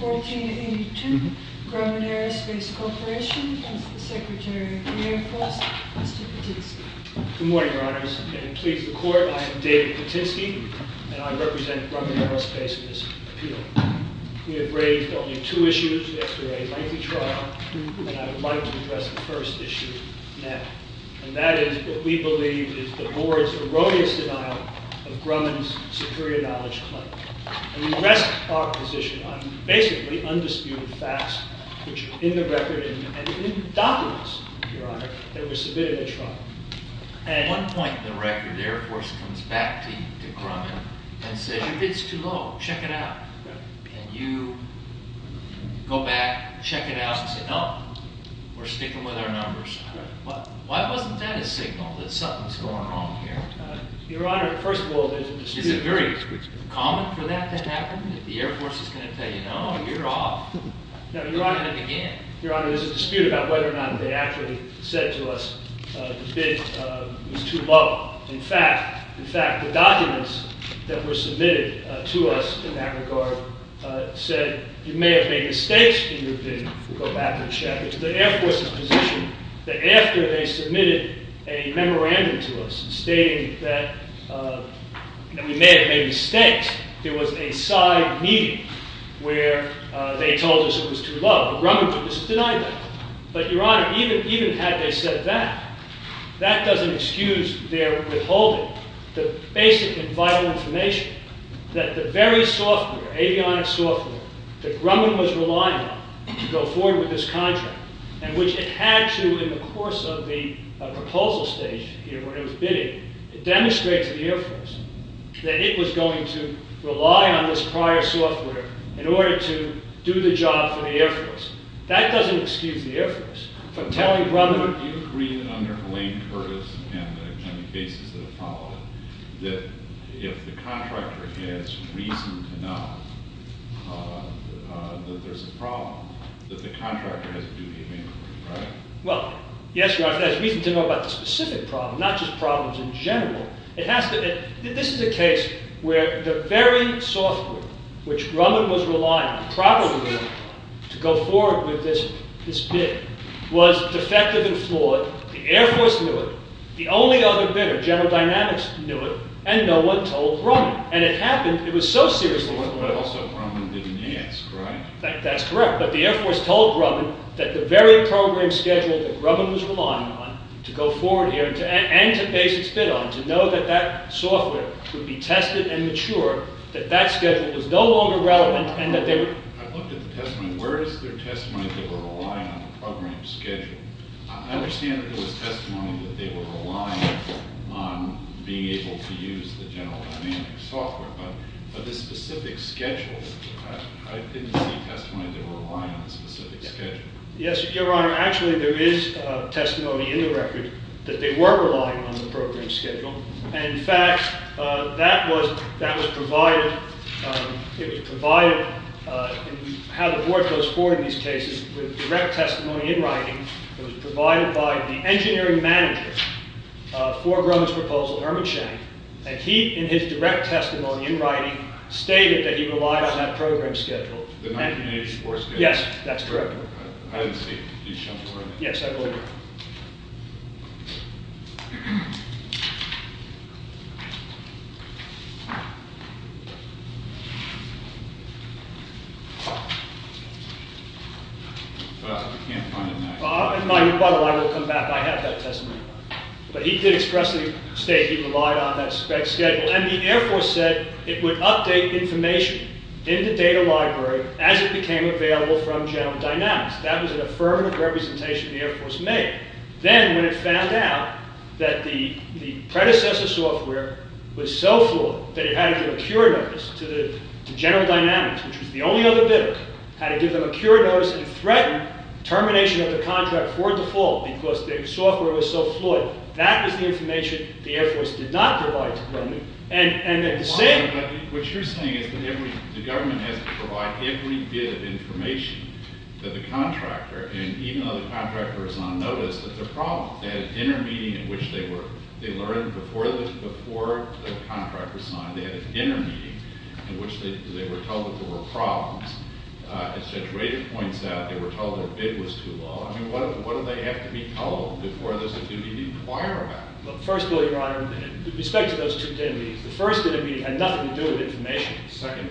1482, Grumman Aerospace Corporation, and to the Secretary of the Air Force, Mr. Patinsky. Good morning, Your Honors. And please record, I am David Patinsky, and I represent Grumman Aerospace in this appeal. We have raised only two issues. We have raised lengthy trial, and I would like to address the first issue now. And that is what we believe is the Board's erroneous denial of Grumman's superior knowledge claim. And we rest our position on basically undisputed facts, which are in the record and in the documents, Your Honor, that were submitted at trial. At one point in the record, the Air Force comes back to Grumman and says your bid's too low, check it out. And you go back, check it out, and say no, we're sticking with our numbers. Why wasn't that a signal that something's going wrong here? Your Honor, first of all, there's a dispute. Is it very common for that to happen, that the Air Force is going to tell you no, you're off, you're going to begin? Your Honor, there's a dispute about whether or not they actually said to us the bid was too low. In fact, the documents that were submitted to us in that regard said you may have made mistakes in your bid. We'll go back and check. It's the Air Force's position that after they submitted a memorandum to us stating that we may have made mistakes, there was a side meeting where they told us it was too low. But Grumman just denied that. But Your Honor, even had they said that, that doesn't excuse their withholding the basic and vital information that the very software, avionics software, that Grumman was relying on to go forward with this contract, and which it had to in the course of the proposal stage here where it was bidding, it demonstrates to the Air Force that it was going to rely on this prior software in order to do the job for the Air Force. That doesn't excuse the Air Force for telling Grumman... But Your Honor, do you agree that under Elaine Curtis and the many cases that have followed that if the contractor has reason to know that there's a problem, that the contractor has a duty of inquiry, right? Well, yes, Your Honor, if it has reason to know about the specific problem, not just where the very software which Grumman was relying on properly to go forward with this bid was defective and flawed, the Air Force knew it, the only other bidder, General Dynamics knew it, and no one told Grumman. And it happened, it was so seriously flawed... But also Grumman didn't answer, right? That's correct. But the Air Force told Grumman that the very program schedule that Grumman was relying on to go forward here and to base its bid on, to know that that software would be tested and mature, that that schedule was no longer relevant, and that they were... I looked at the testimony, where is their testimony that they were relying on the program schedule? I understand that there was testimony that they were relying on being able to use the General Dynamics software, but the specific schedule, I didn't see testimony that they were relying on a specific schedule. Yes, Your Honor, actually there is testimony in the record that they were relying on the program schedule, and in fact, that was provided, it was provided, how the board goes forward in these cases, with direct testimony in writing, it was provided by the engineering manager for Grumman's proposal, Herman Shank, and he, in his direct testimony in writing, stated that he relied on that program schedule. The 1984 schedule? Yes, that's correct. I didn't see it. Yes, I believe it. By the way, I will come back, I have that testimony. But he did expressly state he relied on that schedule, and the Air Force said it would update information in the data library as it became available from General Dynamics. That was an affirmative representation the Air Force made. Then, when it found out that the predecessor software was so flawed that it had to give a cure notice to General Dynamics, which was the only other bidder, had to give them a cure notice and threaten termination of the contract for default because their software was so flawed. That was the information the Air Force did not provide to Grumman. What you're saying is that the government has to provide every bit of information to the contractor, and even though the contractor is on notice, that's a problem. They had a dinner meeting in which they learned before the contractor signed, they had a dinner meeting in which they were told that there were problems. As Judge Rader points out, they were told their bid was too low. I mean, what do they have to be told before there's a duty to inquire about it? With respect to those two dinner meetings, the first dinner meeting had nothing to do with information.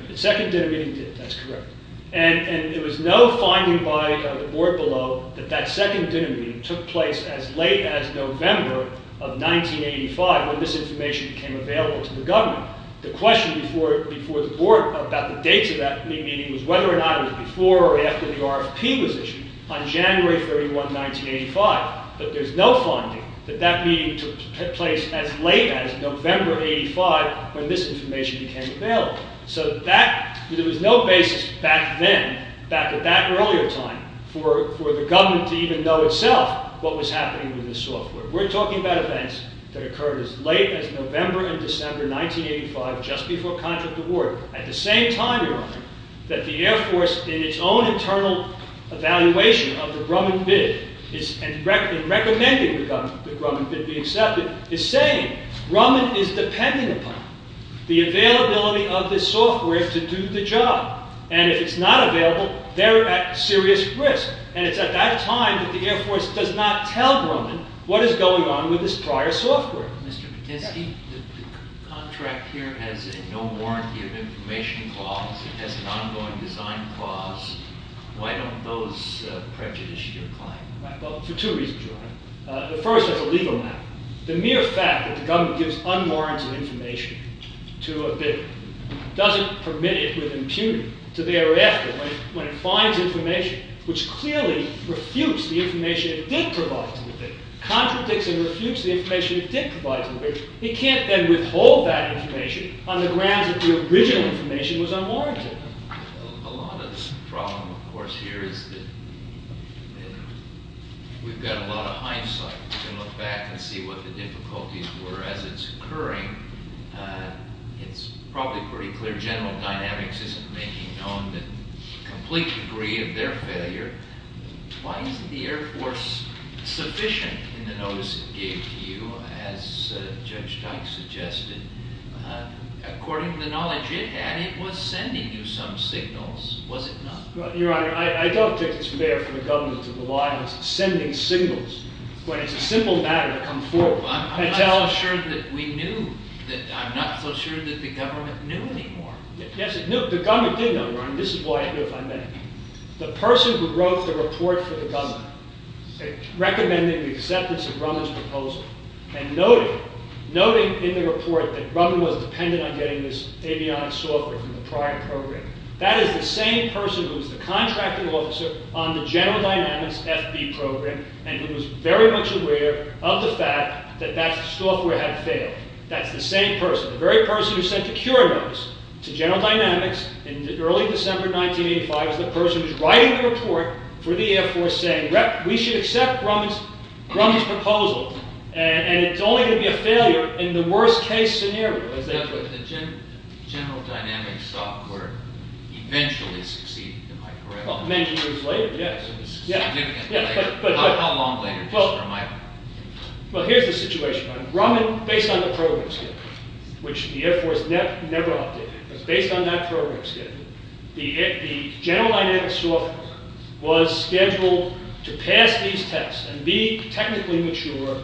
The second dinner meeting did. That's correct. And there was no finding by the board below that that second dinner meeting took place as late as November of 1985 when this information became available to the government. The question before the board about the dates of that meeting was whether or not it was before or after the RFP was issued on January 31, 1985, but there's no finding that that meeting took place as late as November of 1985 when this information became available. So there was no basis back then, back at that earlier time, for the government to even know itself what was happening with this software. We're talking about events that occurred as late as November and December 1985, just before contract award, at the same time that the Air Force, in its own internal evaluation of the Grumman bid, in recommending the Grumman bid be accepted, is saying Grumman is depending upon the availability of this software to do the job, and if it's not available, they're at serious risk, and it's at that time that the Air Force does not tell Grumman what is going on with this prior software. Mr. Patinsky, the contract here has no warranty of information clause. It has an ongoing design clause. Why don't those prejudices recline? Well, for two reasons, Your Honor. The first is a legal matter. The mere fact that the government gives unwarranted information to a bidder doesn't permit it with impunity to thereafter, when it finds information which clearly refutes the information it did provide to the bidder, contradicts and refutes the information it did provide to the bidder. It can't then withhold that information on the grounds that the original information was unwarranted. A lot of the problem, of course, here is that we've got a lot of hindsight. We can look back and see what the difficulties were as it's occurring. It's probably pretty clear General Dynamics isn't making known the complete degree of their failure. Why isn't the Air Force sufficient in the notice it gave to you, as Judge Dyke suggested? According to the knowledge it had, it was sending you some signals. Was it not? Your Honor, I don't think it's fair for the government to rely on sending signals when it's a simple matter to come forward. I'm not so sure that we knew. I'm not so sure that the government knew anymore. Yes, it knew. The government did know, Your Honor. This is why I knew if I met him. The person who wrote the report for the government recommending the acceptance of Rumman's proposal and noting in the report that Rumman was dependent on getting this avionics software from the prior program, that is the same person who was the contracting officer on the General Dynamics FB program and who was very much aware of the fact that that software had failed. That's the same person. The very person who sent the cure notice to General Dynamics in early December 1985 is the person who's writing the report for the Air Force saying, we should accept Rumman's proposal and it's only going to be a failure in the worst-case scenario. The General Dynamics software eventually succeeded in my career. Many years later, yes. How long later? Well, here's the situation. Rumman, based on the program schedule, which the Air Force never updated, was based on that program schedule. The General Dynamics software was scheduled to pass these tests and be technically mature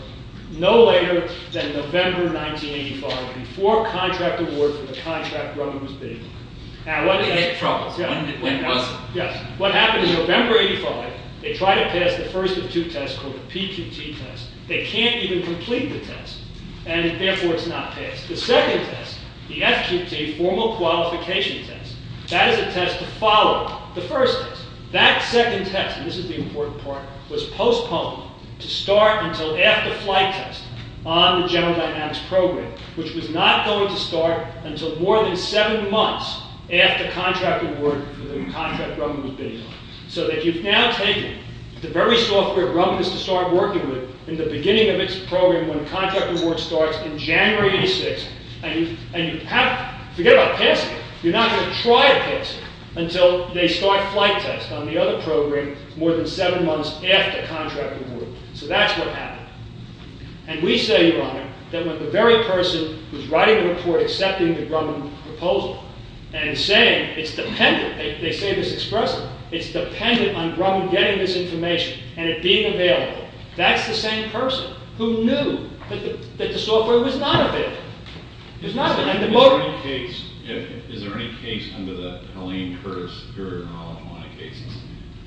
no later than November 1985 before contract award for the contract Rumman was bidding on. It had problems. When was it? Yes. What happened in November 1985, they tried to pass the first of two tests called the PQT test. They can't even complete the test and therefore it's not passed. The second test, the FQT, formal qualification test, that is a test to follow the first test. That second test, and this is the important part, was postponed to start until after flight test on the General Dynamics program, which was not going to start until more than seven months after contract award for the contract Rumman was bidding on. So that you've now taken the very software Rumman was to start working with in the beginning of its program when contract award starts in January 1986. And you have to forget about passing it. You're not going to try to pass it until they start flight test on the other program more than seven months after contract award. So that's what happened. And we say, Your Honor, that when the very person who's writing the report accepting the Rumman proposal and saying it's dependent, they say this expressly, it's dependent on Rumman getting this information and it being available, that's the same person who knew that the software was not available. Is there any case under the Helene Curtis Superior Knowledge Money cases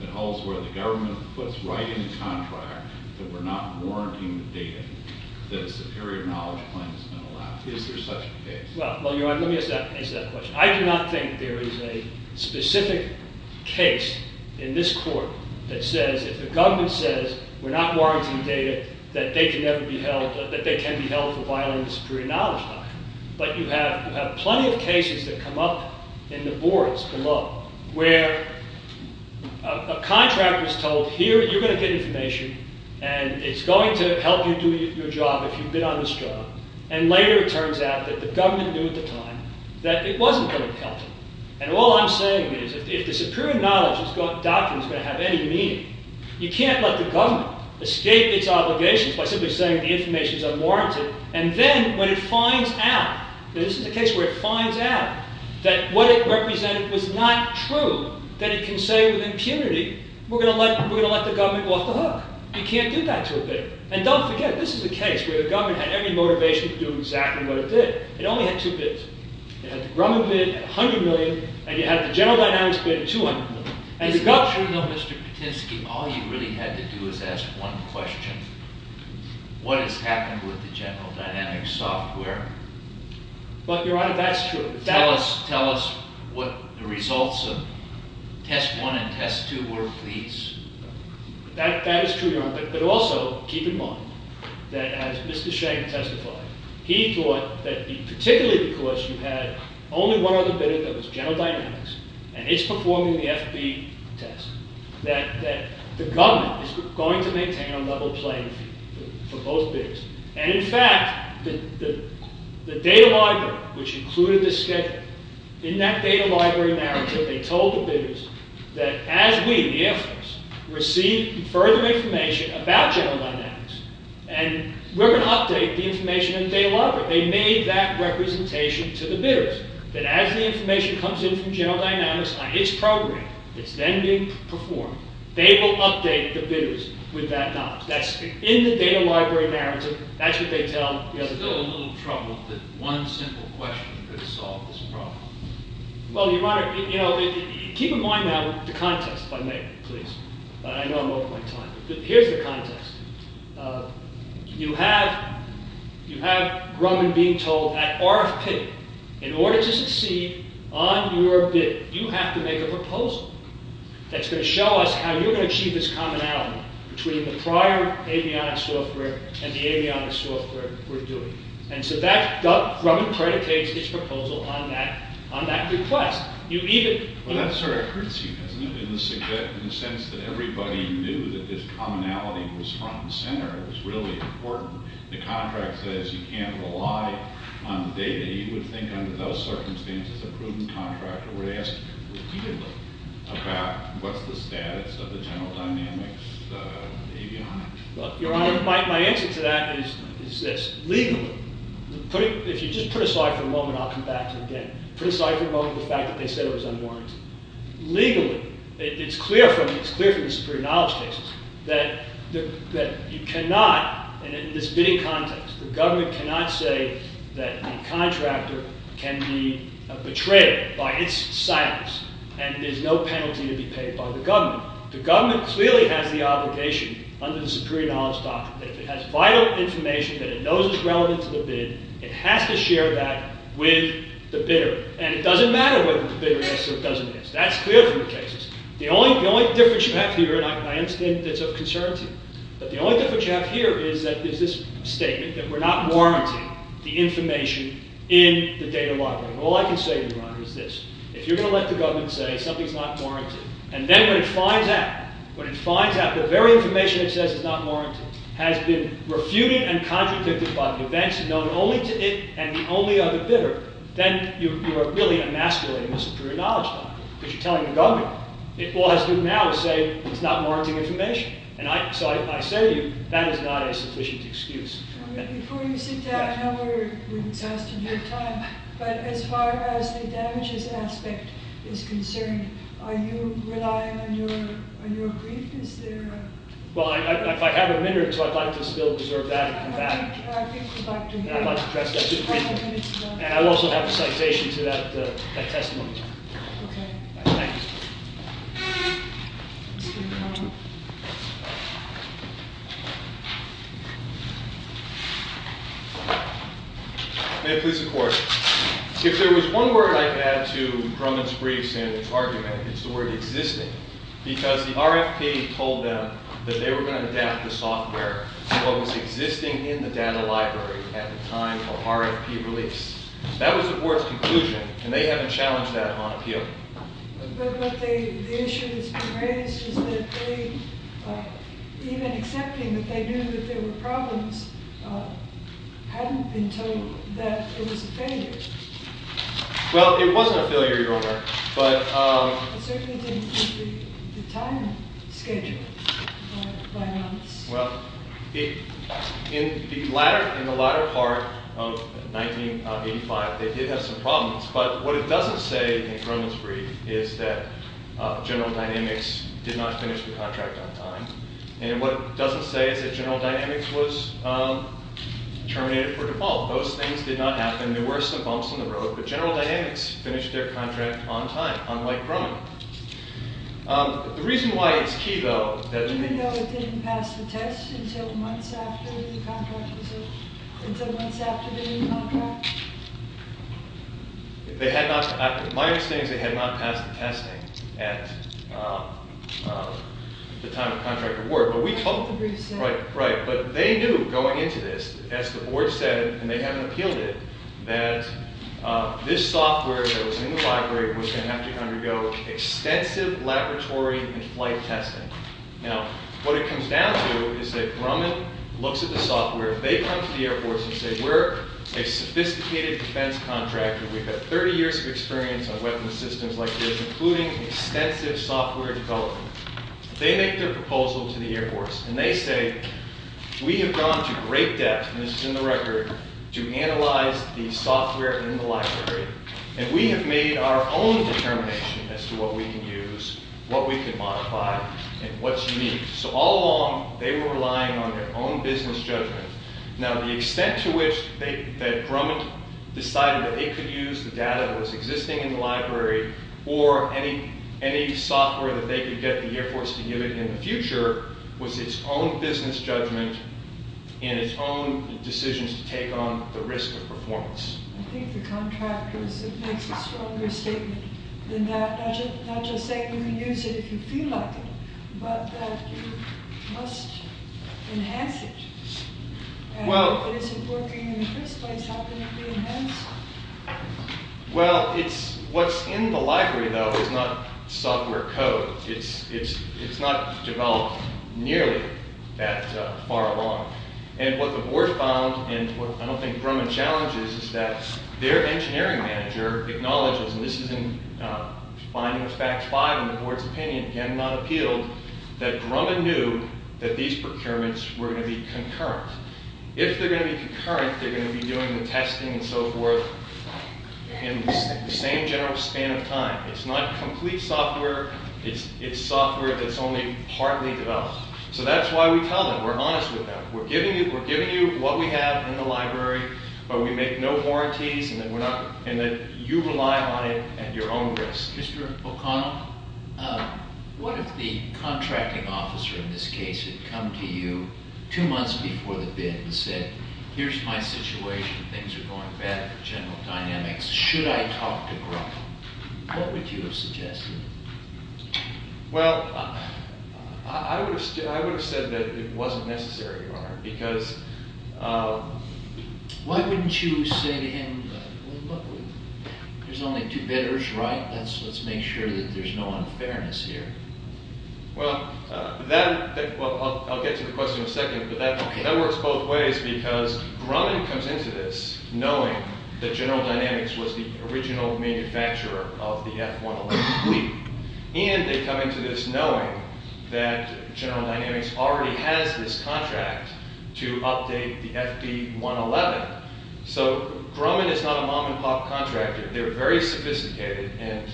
that holds where the government puts right in the contract that we're not warranting the data that a superior knowledge claim is not allowed? Is there such a case? Well, Your Honor, let me ask that question. I do not think there is a specific case in this court that says if the government says we're not warranting data that they can be held for violating the superior knowledge document. But you have plenty of cases that come up in the boards below where a contract was told, Here, you're going to get information and it's going to help you do your job if you bid on this job. And later it turns out that the government knew at the time that it wasn't going to help you. And all I'm saying is if the superior knowledge document is going to have any meaning, you can't let the government escape its obligations by simply saying the information is unwarranted and then when it finds out that what it represented was not true, that it can say with impunity, we're going to let the government go off the hook. You can't do that to a bidder. And don't forget, this is a case where the government had every motivation to do exactly what it did. It only had two bids. It had the Grumman bid at $100 million and it had the General Dynamics bid at $200 million. Mr. Patinsky, all you really had to do was ask one question. What has happened with the General Dynamics software? But, Your Honor, that's true. That is true, Your Honor. But also, keep in mind that as Mr. Sheng testified, he thought that particularly because you had only one other bidder that was General Dynamics and it's performing the FB test, that the government is going to maintain a level playing field for both bidders. And in fact, the data library, which included this schedule, in that data library narrative, they told the bidders that as we, the Air Force, receive further information about General Dynamics, and we're going to update the information in the data library. They made that representation to the bidders. That as the information comes in from General Dynamics on its program, that's then being performed, they will update the bidders with that knowledge. That's in the data library narrative. That's what they tell the other bidders. I'm still a little troubled that one simple question could have solved this problem. Well, Your Honor, keep in mind now the contest, if I may, please. I know I'm over my time. Here's the contest. You have Grumman being told at RFP, in order to succeed on your bid, you have to make a proposal that's going to show us how you're going to achieve this commonality between the prior Avionics software and the Avionics software we're doing. And so that, Grumman predicates his proposal on that request. Well, that sort of hurts you, doesn't it, in the sense that everybody knew that this commonality was front and center, it was really important. The contract says you can't rely on the data. You would think under those circumstances a prudent contractor would ask repeatedly about what's the status of the General Dynamics Avionics. Well, Your Honor, my answer to that is this. Legally, if you just put aside for a moment, I'll come back to it again. Put aside for a moment the fact that they said it was unwarranted. Legally, it's clear from the superior knowledge cases that you cannot, in this bidding context, the government cannot say that the contractor can be betrayed by its silence and there's no penalty to be paid by the government. The government clearly has the obligation under the superior knowledge document that if it has vital information that it knows is relevant to the bid, it has to share that with the bidder. And it doesn't matter whether the bidder is or doesn't is. That's clear from the cases. The only difference you have here, and I understand that's of concern to you, but the only difference you have here is this statement that we're not warranting the information in the data library. All I can say to you, Your Honor, is this. If you're going to let the government say something's not warranted, and then when it finds out, when it finds out the very information it says is not warranted has been refuted and contradicted by the events known only to it and only of the bidder, then you are really emasculating the superior knowledge document because you're telling the government. All it has to do now is say it's not warranting information. So I say to you, that is not a sufficient excuse. Before you sit down, I know we're exhausting your time, but as far as the damages aspect is concerned, are you relying on your brief? Is there a... Well, if I have a minute or two, I'd like to still reserve that and come back. I think we'd like to hear it. And I'd like to address that briefly. I have a minute to go. And I also have a citation to that testimony. Okay. Thank you, sir. May it please the Court. If there was one word I could add to Drummond's briefs and his argument, it's the word existing. Because the RFP told them that they were going to adapt the software to what was existing in the data library at the time of RFP release. That was the Board's conclusion, and they haven't challenged that on appeal. But the issue that's been raised is that they, even accepting that they knew that there were problems, hadn't been told that it was a failure. Well, it wasn't a failure, Your Honor, but... It certainly didn't meet the time schedule by months. Well, in the latter part of 1985, they did have some problems. But what it doesn't say in Drummond's brief is that General Dynamics did not finish the contract on time. And what it doesn't say is that General Dynamics was terminated for default. Those things did not happen. There were some bumps in the road, but General Dynamics finished their contract on time, unlike Drummond. The reason why it's key, though, that... Even though it didn't pass the test until months after the contract was over? Until months after the new contract? They had not... Right, right. But they knew, going into this, as the board said, and they hadn't appealed it, that this software that was in the library was going to have to undergo extensive laboratory and flight testing. Now, what it comes down to is that Drummond looks at the software. They come to the Air Force and say, we're a sophisticated defense contractor. We have 30 years of experience on weapons systems like this, including extensive software development. They make their proposal to the Air Force, and they say, we have gone to great depth, and this is in the record, to analyze the software in the library, and we have made our own determination as to what we can use, what we can modify, and what's unique. So all along, they were relying on their own business judgment. Now, the extent to which that Drummond decided that they could use the data that was existing in the library or any software that they could get the Air Force to give it in the future was its own business judgment and its own decisions to take on the risk of performance. I think the contractor makes a stronger statement than that, not just saying you can use it if you feel like it, but that you must enhance it. And if it isn't working in the first place, how can it be enhanced? Well, what's in the library, though, is not software code. It's not developed nearly that far along. And what the board found, and what I don't think Drummond challenges, is that their engineering manager acknowledges, and this is in finding of fact five in the board's opinion, again not appealed, that Drummond knew that these procurements were going to be concurrent. If they're going to be concurrent, they're going to be doing the testing and so forth in the same general span of time. It's not complete software. It's software that's only partly developed. So that's why we tell them. We're honest with them. We're giving you what we have in the library, but we make no warranties and that you rely on it at your own risk. Mr. O'Connell, what if the contracting officer in this case had come to you two months before the bid and said, here's my situation. Things are going bad for General Dynamics. Should I talk to Grumman? What would you have suggested? Well, I would have said that it wasn't necessary, Mark, because... Why wouldn't you say to him, there's only two bidders, right? Let's make sure that there's no unfairness here. Well, that... I'll get to the question in a second, but that works both ways because Grumman comes into this knowing that General Dynamics was the original manufacturer of the F-111 fleet. And they come into this knowing that General Dynamics already has this contract to update the FD-111. So Grumman is not a mom-and-pop contractor. They're very sophisticated. And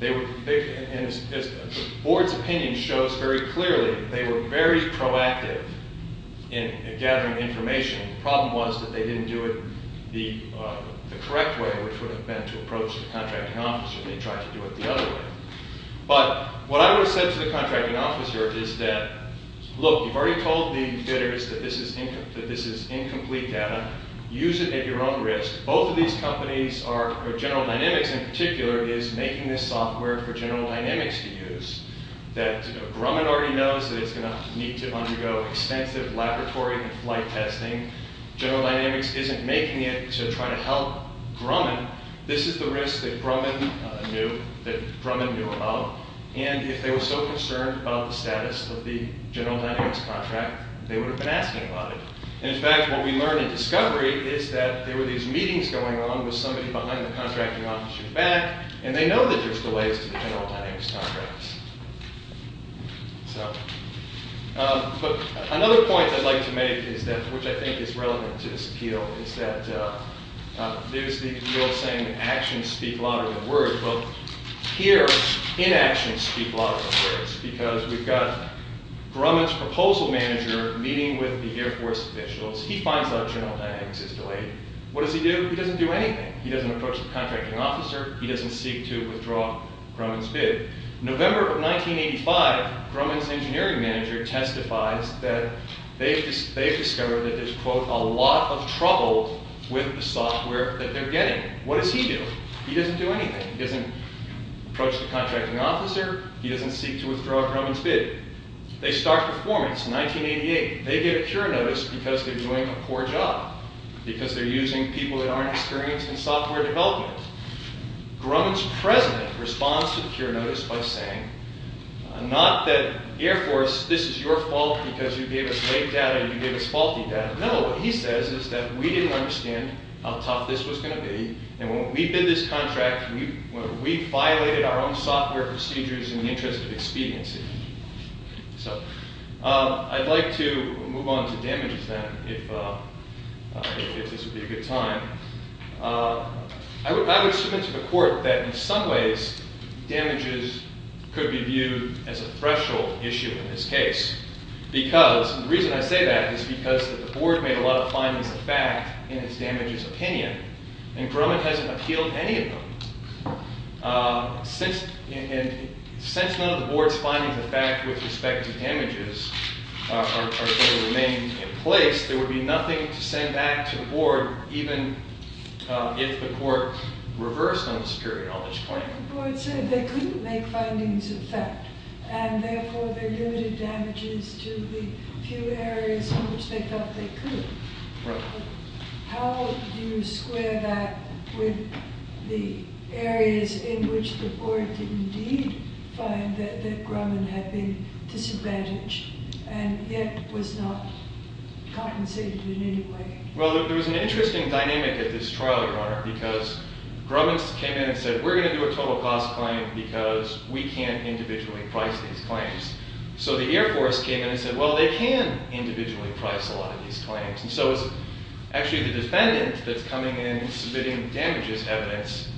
the board's opinion shows very clearly that they were very proactive in gathering information. The problem was that they didn't do it the correct way, which would have been to approach the contracting officer and they tried to do it the other way. But what I would have said to the contracting officer is that, look, you've already told the bidders that this is incomplete data. Use it at your own risk. Both of these companies are... General Dynamics in particular is making this software for General Dynamics to use that Grumman already knows that it's going to need to undergo extensive laboratory and flight testing. General Dynamics isn't making it to try to help Grumman. This is the risk that Grumman knew about. And if they were so concerned about the status of the General Dynamics contract, they would have been asking about it. And, in fact, what we learn in discovery with somebody behind the contracting officer's back, and they know that there's delays to the General Dynamics contracts. But another point I'd like to make, which I think is relevant to this appeal, is that there's the old saying, actions speak louder than words. Well, here, inactions speak louder than words because we've got Grumman's proposal manager meeting with the Air Force officials. He finds out General Dynamics is delayed. What does he do? He doesn't do anything. He doesn't approach the contracting officer. He doesn't seek to withdraw Grumman's bid. November of 1985, Grumman's engineering manager testifies that they've discovered that there's, quote, a lot of trouble with the software that they're getting. What does he do? He doesn't do anything. He doesn't approach the contracting officer. He doesn't seek to withdraw Grumman's bid. They start performance in 1988. They get a cure notice because they're doing a poor job, because they're using people that aren't experienced in software development. Grumman's president responds to the cure notice by saying, not that Air Force, this is your fault because you gave us late data, you gave us faulty data. No, what he says is that we didn't understand how tough this was going to be, and when we bid this contract, we violated our own software procedures in the interest of expediency. So, I'd like to move on to damages, then, if this would be a good time. I would submit to the court that, in some ways, damages could be viewed as a threshold issue in this case, because, and the reason I say that is because the board made a lot of findings of fact in its damages opinion, and Grumman hasn't appealed any of them. Since none of the board's findings of fact with respect to damages are going to remain in place, there would be nothing to send back to the board even if the court reversed on the superior knowledge claim. But the board said they couldn't make findings of fact, and therefore there are limited damages to the few areas in which they thought they could. Right. How do you square that with the areas in which the board did indeed find that Grumman had been disadvantaged and yet was not compensated in any way? Well, there was an interesting dynamic at this trial, Your Honor, because Grumman came in and said, we're going to do a total cost claim because we can't individually price these claims. So the Air Force came in and said, well, they can individually price a lot of these claims. And so it's actually the defendant that's coming in and submitting damages evidence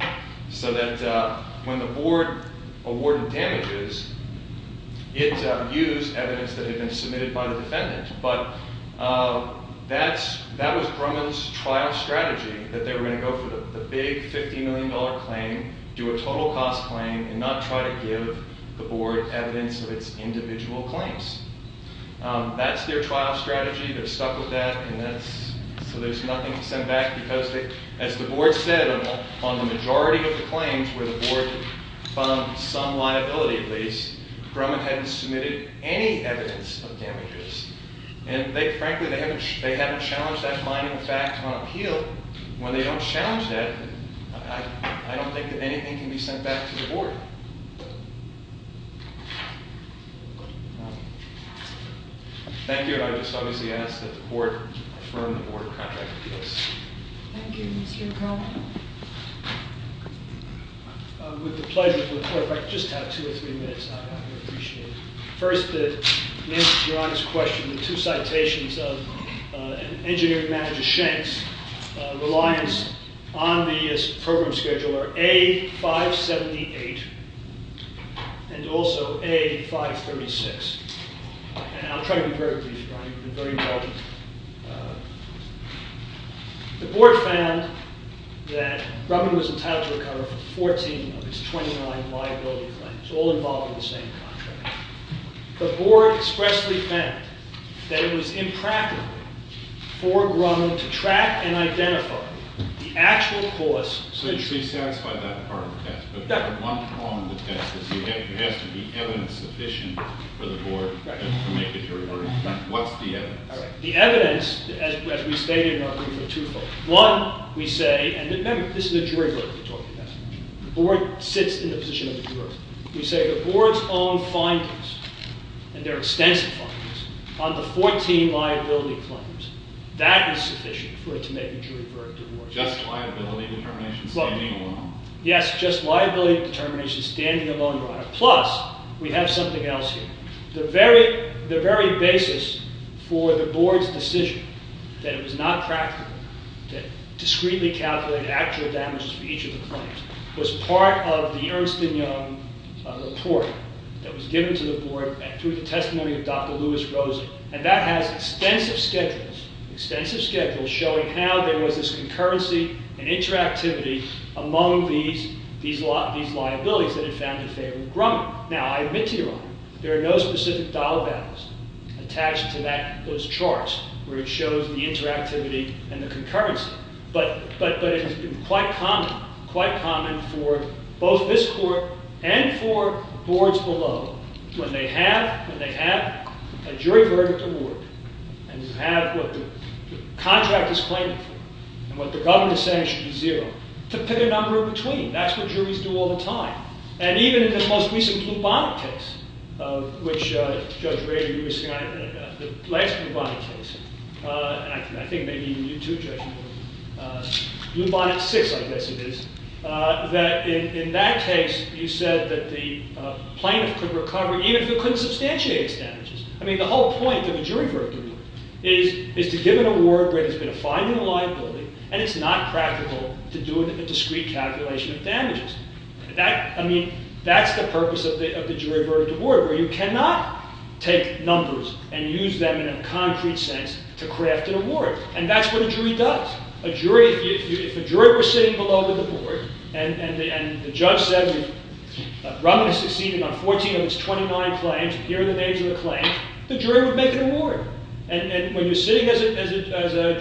so that when the board awarded damages, it used evidence that had been submitted by the defendant. But that was Grumman's trial strategy, that they were going to go for the big $50 million claim, do a total cost claim, and not try to give the board evidence of its individual claims. That's their trial strategy. They're stuck with that, and so there's nothing to send back because, as the board said, on the majority of the claims where the board found some liability, at least, Grumman hadn't submitted any evidence of damages. And frankly, they haven't challenged that finding of fact on appeal. When they don't challenge that, I don't think that anything can be sent back to the board. Thank you, and I just obviously ask that the court affirm the board contract with us. Thank you, Mr. Grumman. With the pleasure of the court, if I could just have two or three minutes, I would appreciate it. First, to answer your honest question, the two citations of an engineering manager, Shanks, reliance on the program schedule are A578 and also A536. And I'll try to be very brief, Brian. You've been very involved. The board found that Grumman was entitled to recover 14 of its 29 liability claims, all involved in the same contract. The board expressly felt that it was impractical for Grumman to track and identify the actual cause. So you should be satisfied by that part of the test. But one problem with the test is you have to be evidence sufficient for the board to make a jury verdict. What's the evidence? The evidence, as we stated in our brief, are twofold. One, we say, and remember, this is a jury verdict we're talking about. The board sits in the position of the juror. We say the board's own findings, and their extensive findings, on the 14 liability claims, that is sufficient for it to make a jury verdict. Just liability determination standing alone. Yes, just liability determination standing alone, Ron. Plus, we have something else here. The very basis for the board's decision that it was not practical to discreetly calculate actual damages for each of the claims was part of the Ernst & Young report that was given to the board through the testimony of Dr. Louis Rosen. And that has extensive schedules, extensive schedules showing how there was this concurrency and interactivity among these liabilities that it found to favor Grumman. Now, I admit to you, Ron, there are no specific dollar values attached to those charts where it shows the interactivity and the concurrency. But it has been quite common, quite common for both this court and for boards below, when they have a jury verdict award, and have what the contract is claiming for, and what the government is saying should be zero, to pick a number in between. That's what juries do all the time. And even in the most recent Blue Bonnet case, which Judge Ray was saying, the last Blue Bonnet case, and I think maybe you too, Judge, Blue Bonnet 6, I guess it is, that in that case, you said that the plaintiff could recover, even if he couldn't substantiate his damages. I mean, the whole point of a jury verdict award is to give an award where there's been a fine and a liability, and it's not practical to do a discreet calculation of damages. I mean, that's the purpose of the jury verdict award, where you cannot take numbers and use them in a concrete sense to craft an award. And that's what a jury does. A jury, if a jury were sitting below the board, and the judge said, Robin has succeeded on 14 of his 29 claims, and here are the names of the claims, the jury would make an award. And when you're sitting in a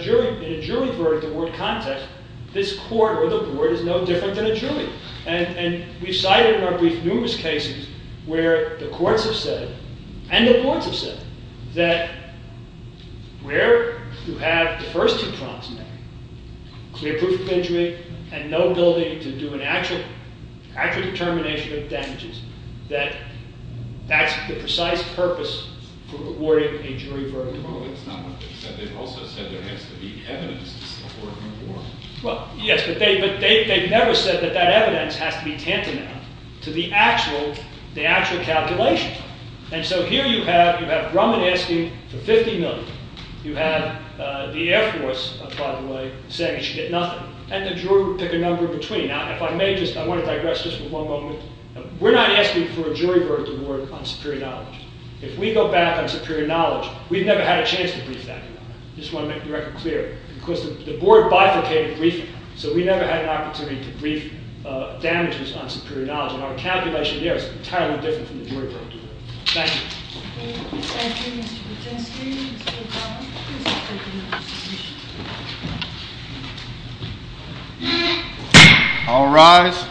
jury verdict award context, this court or the board is no different than a jury. And we've cited in our brief numerous cases where the courts have said, and the boards have said, that where you have the first two prompts in there, clear proof of injury and no ability to do an actual determination of damages, that that's the precise purpose for awarding a jury verdict award. Well, it's not what they said. They've also said there has to be evidence to support an award. Well, yes. But they've never said that that evidence has to be tantamount to the actual calculation. And so here you have Robin asking for $50 million. You have the Air Force, by the way, saying you should get nothing. And the jury would pick a number in between. Now, if I may just, I want to digress just for one moment. We're not asking for a jury verdict award on superior knowledge. If we go back on superior knowledge, we've never had a chance to brief that amount. I just want to make the record clear. Because the board bifurcated briefing. So we never had an opportunity to brief damages on superior knowledge. And our calculation here is entirely different from the jury verdict. Thank you. All rise.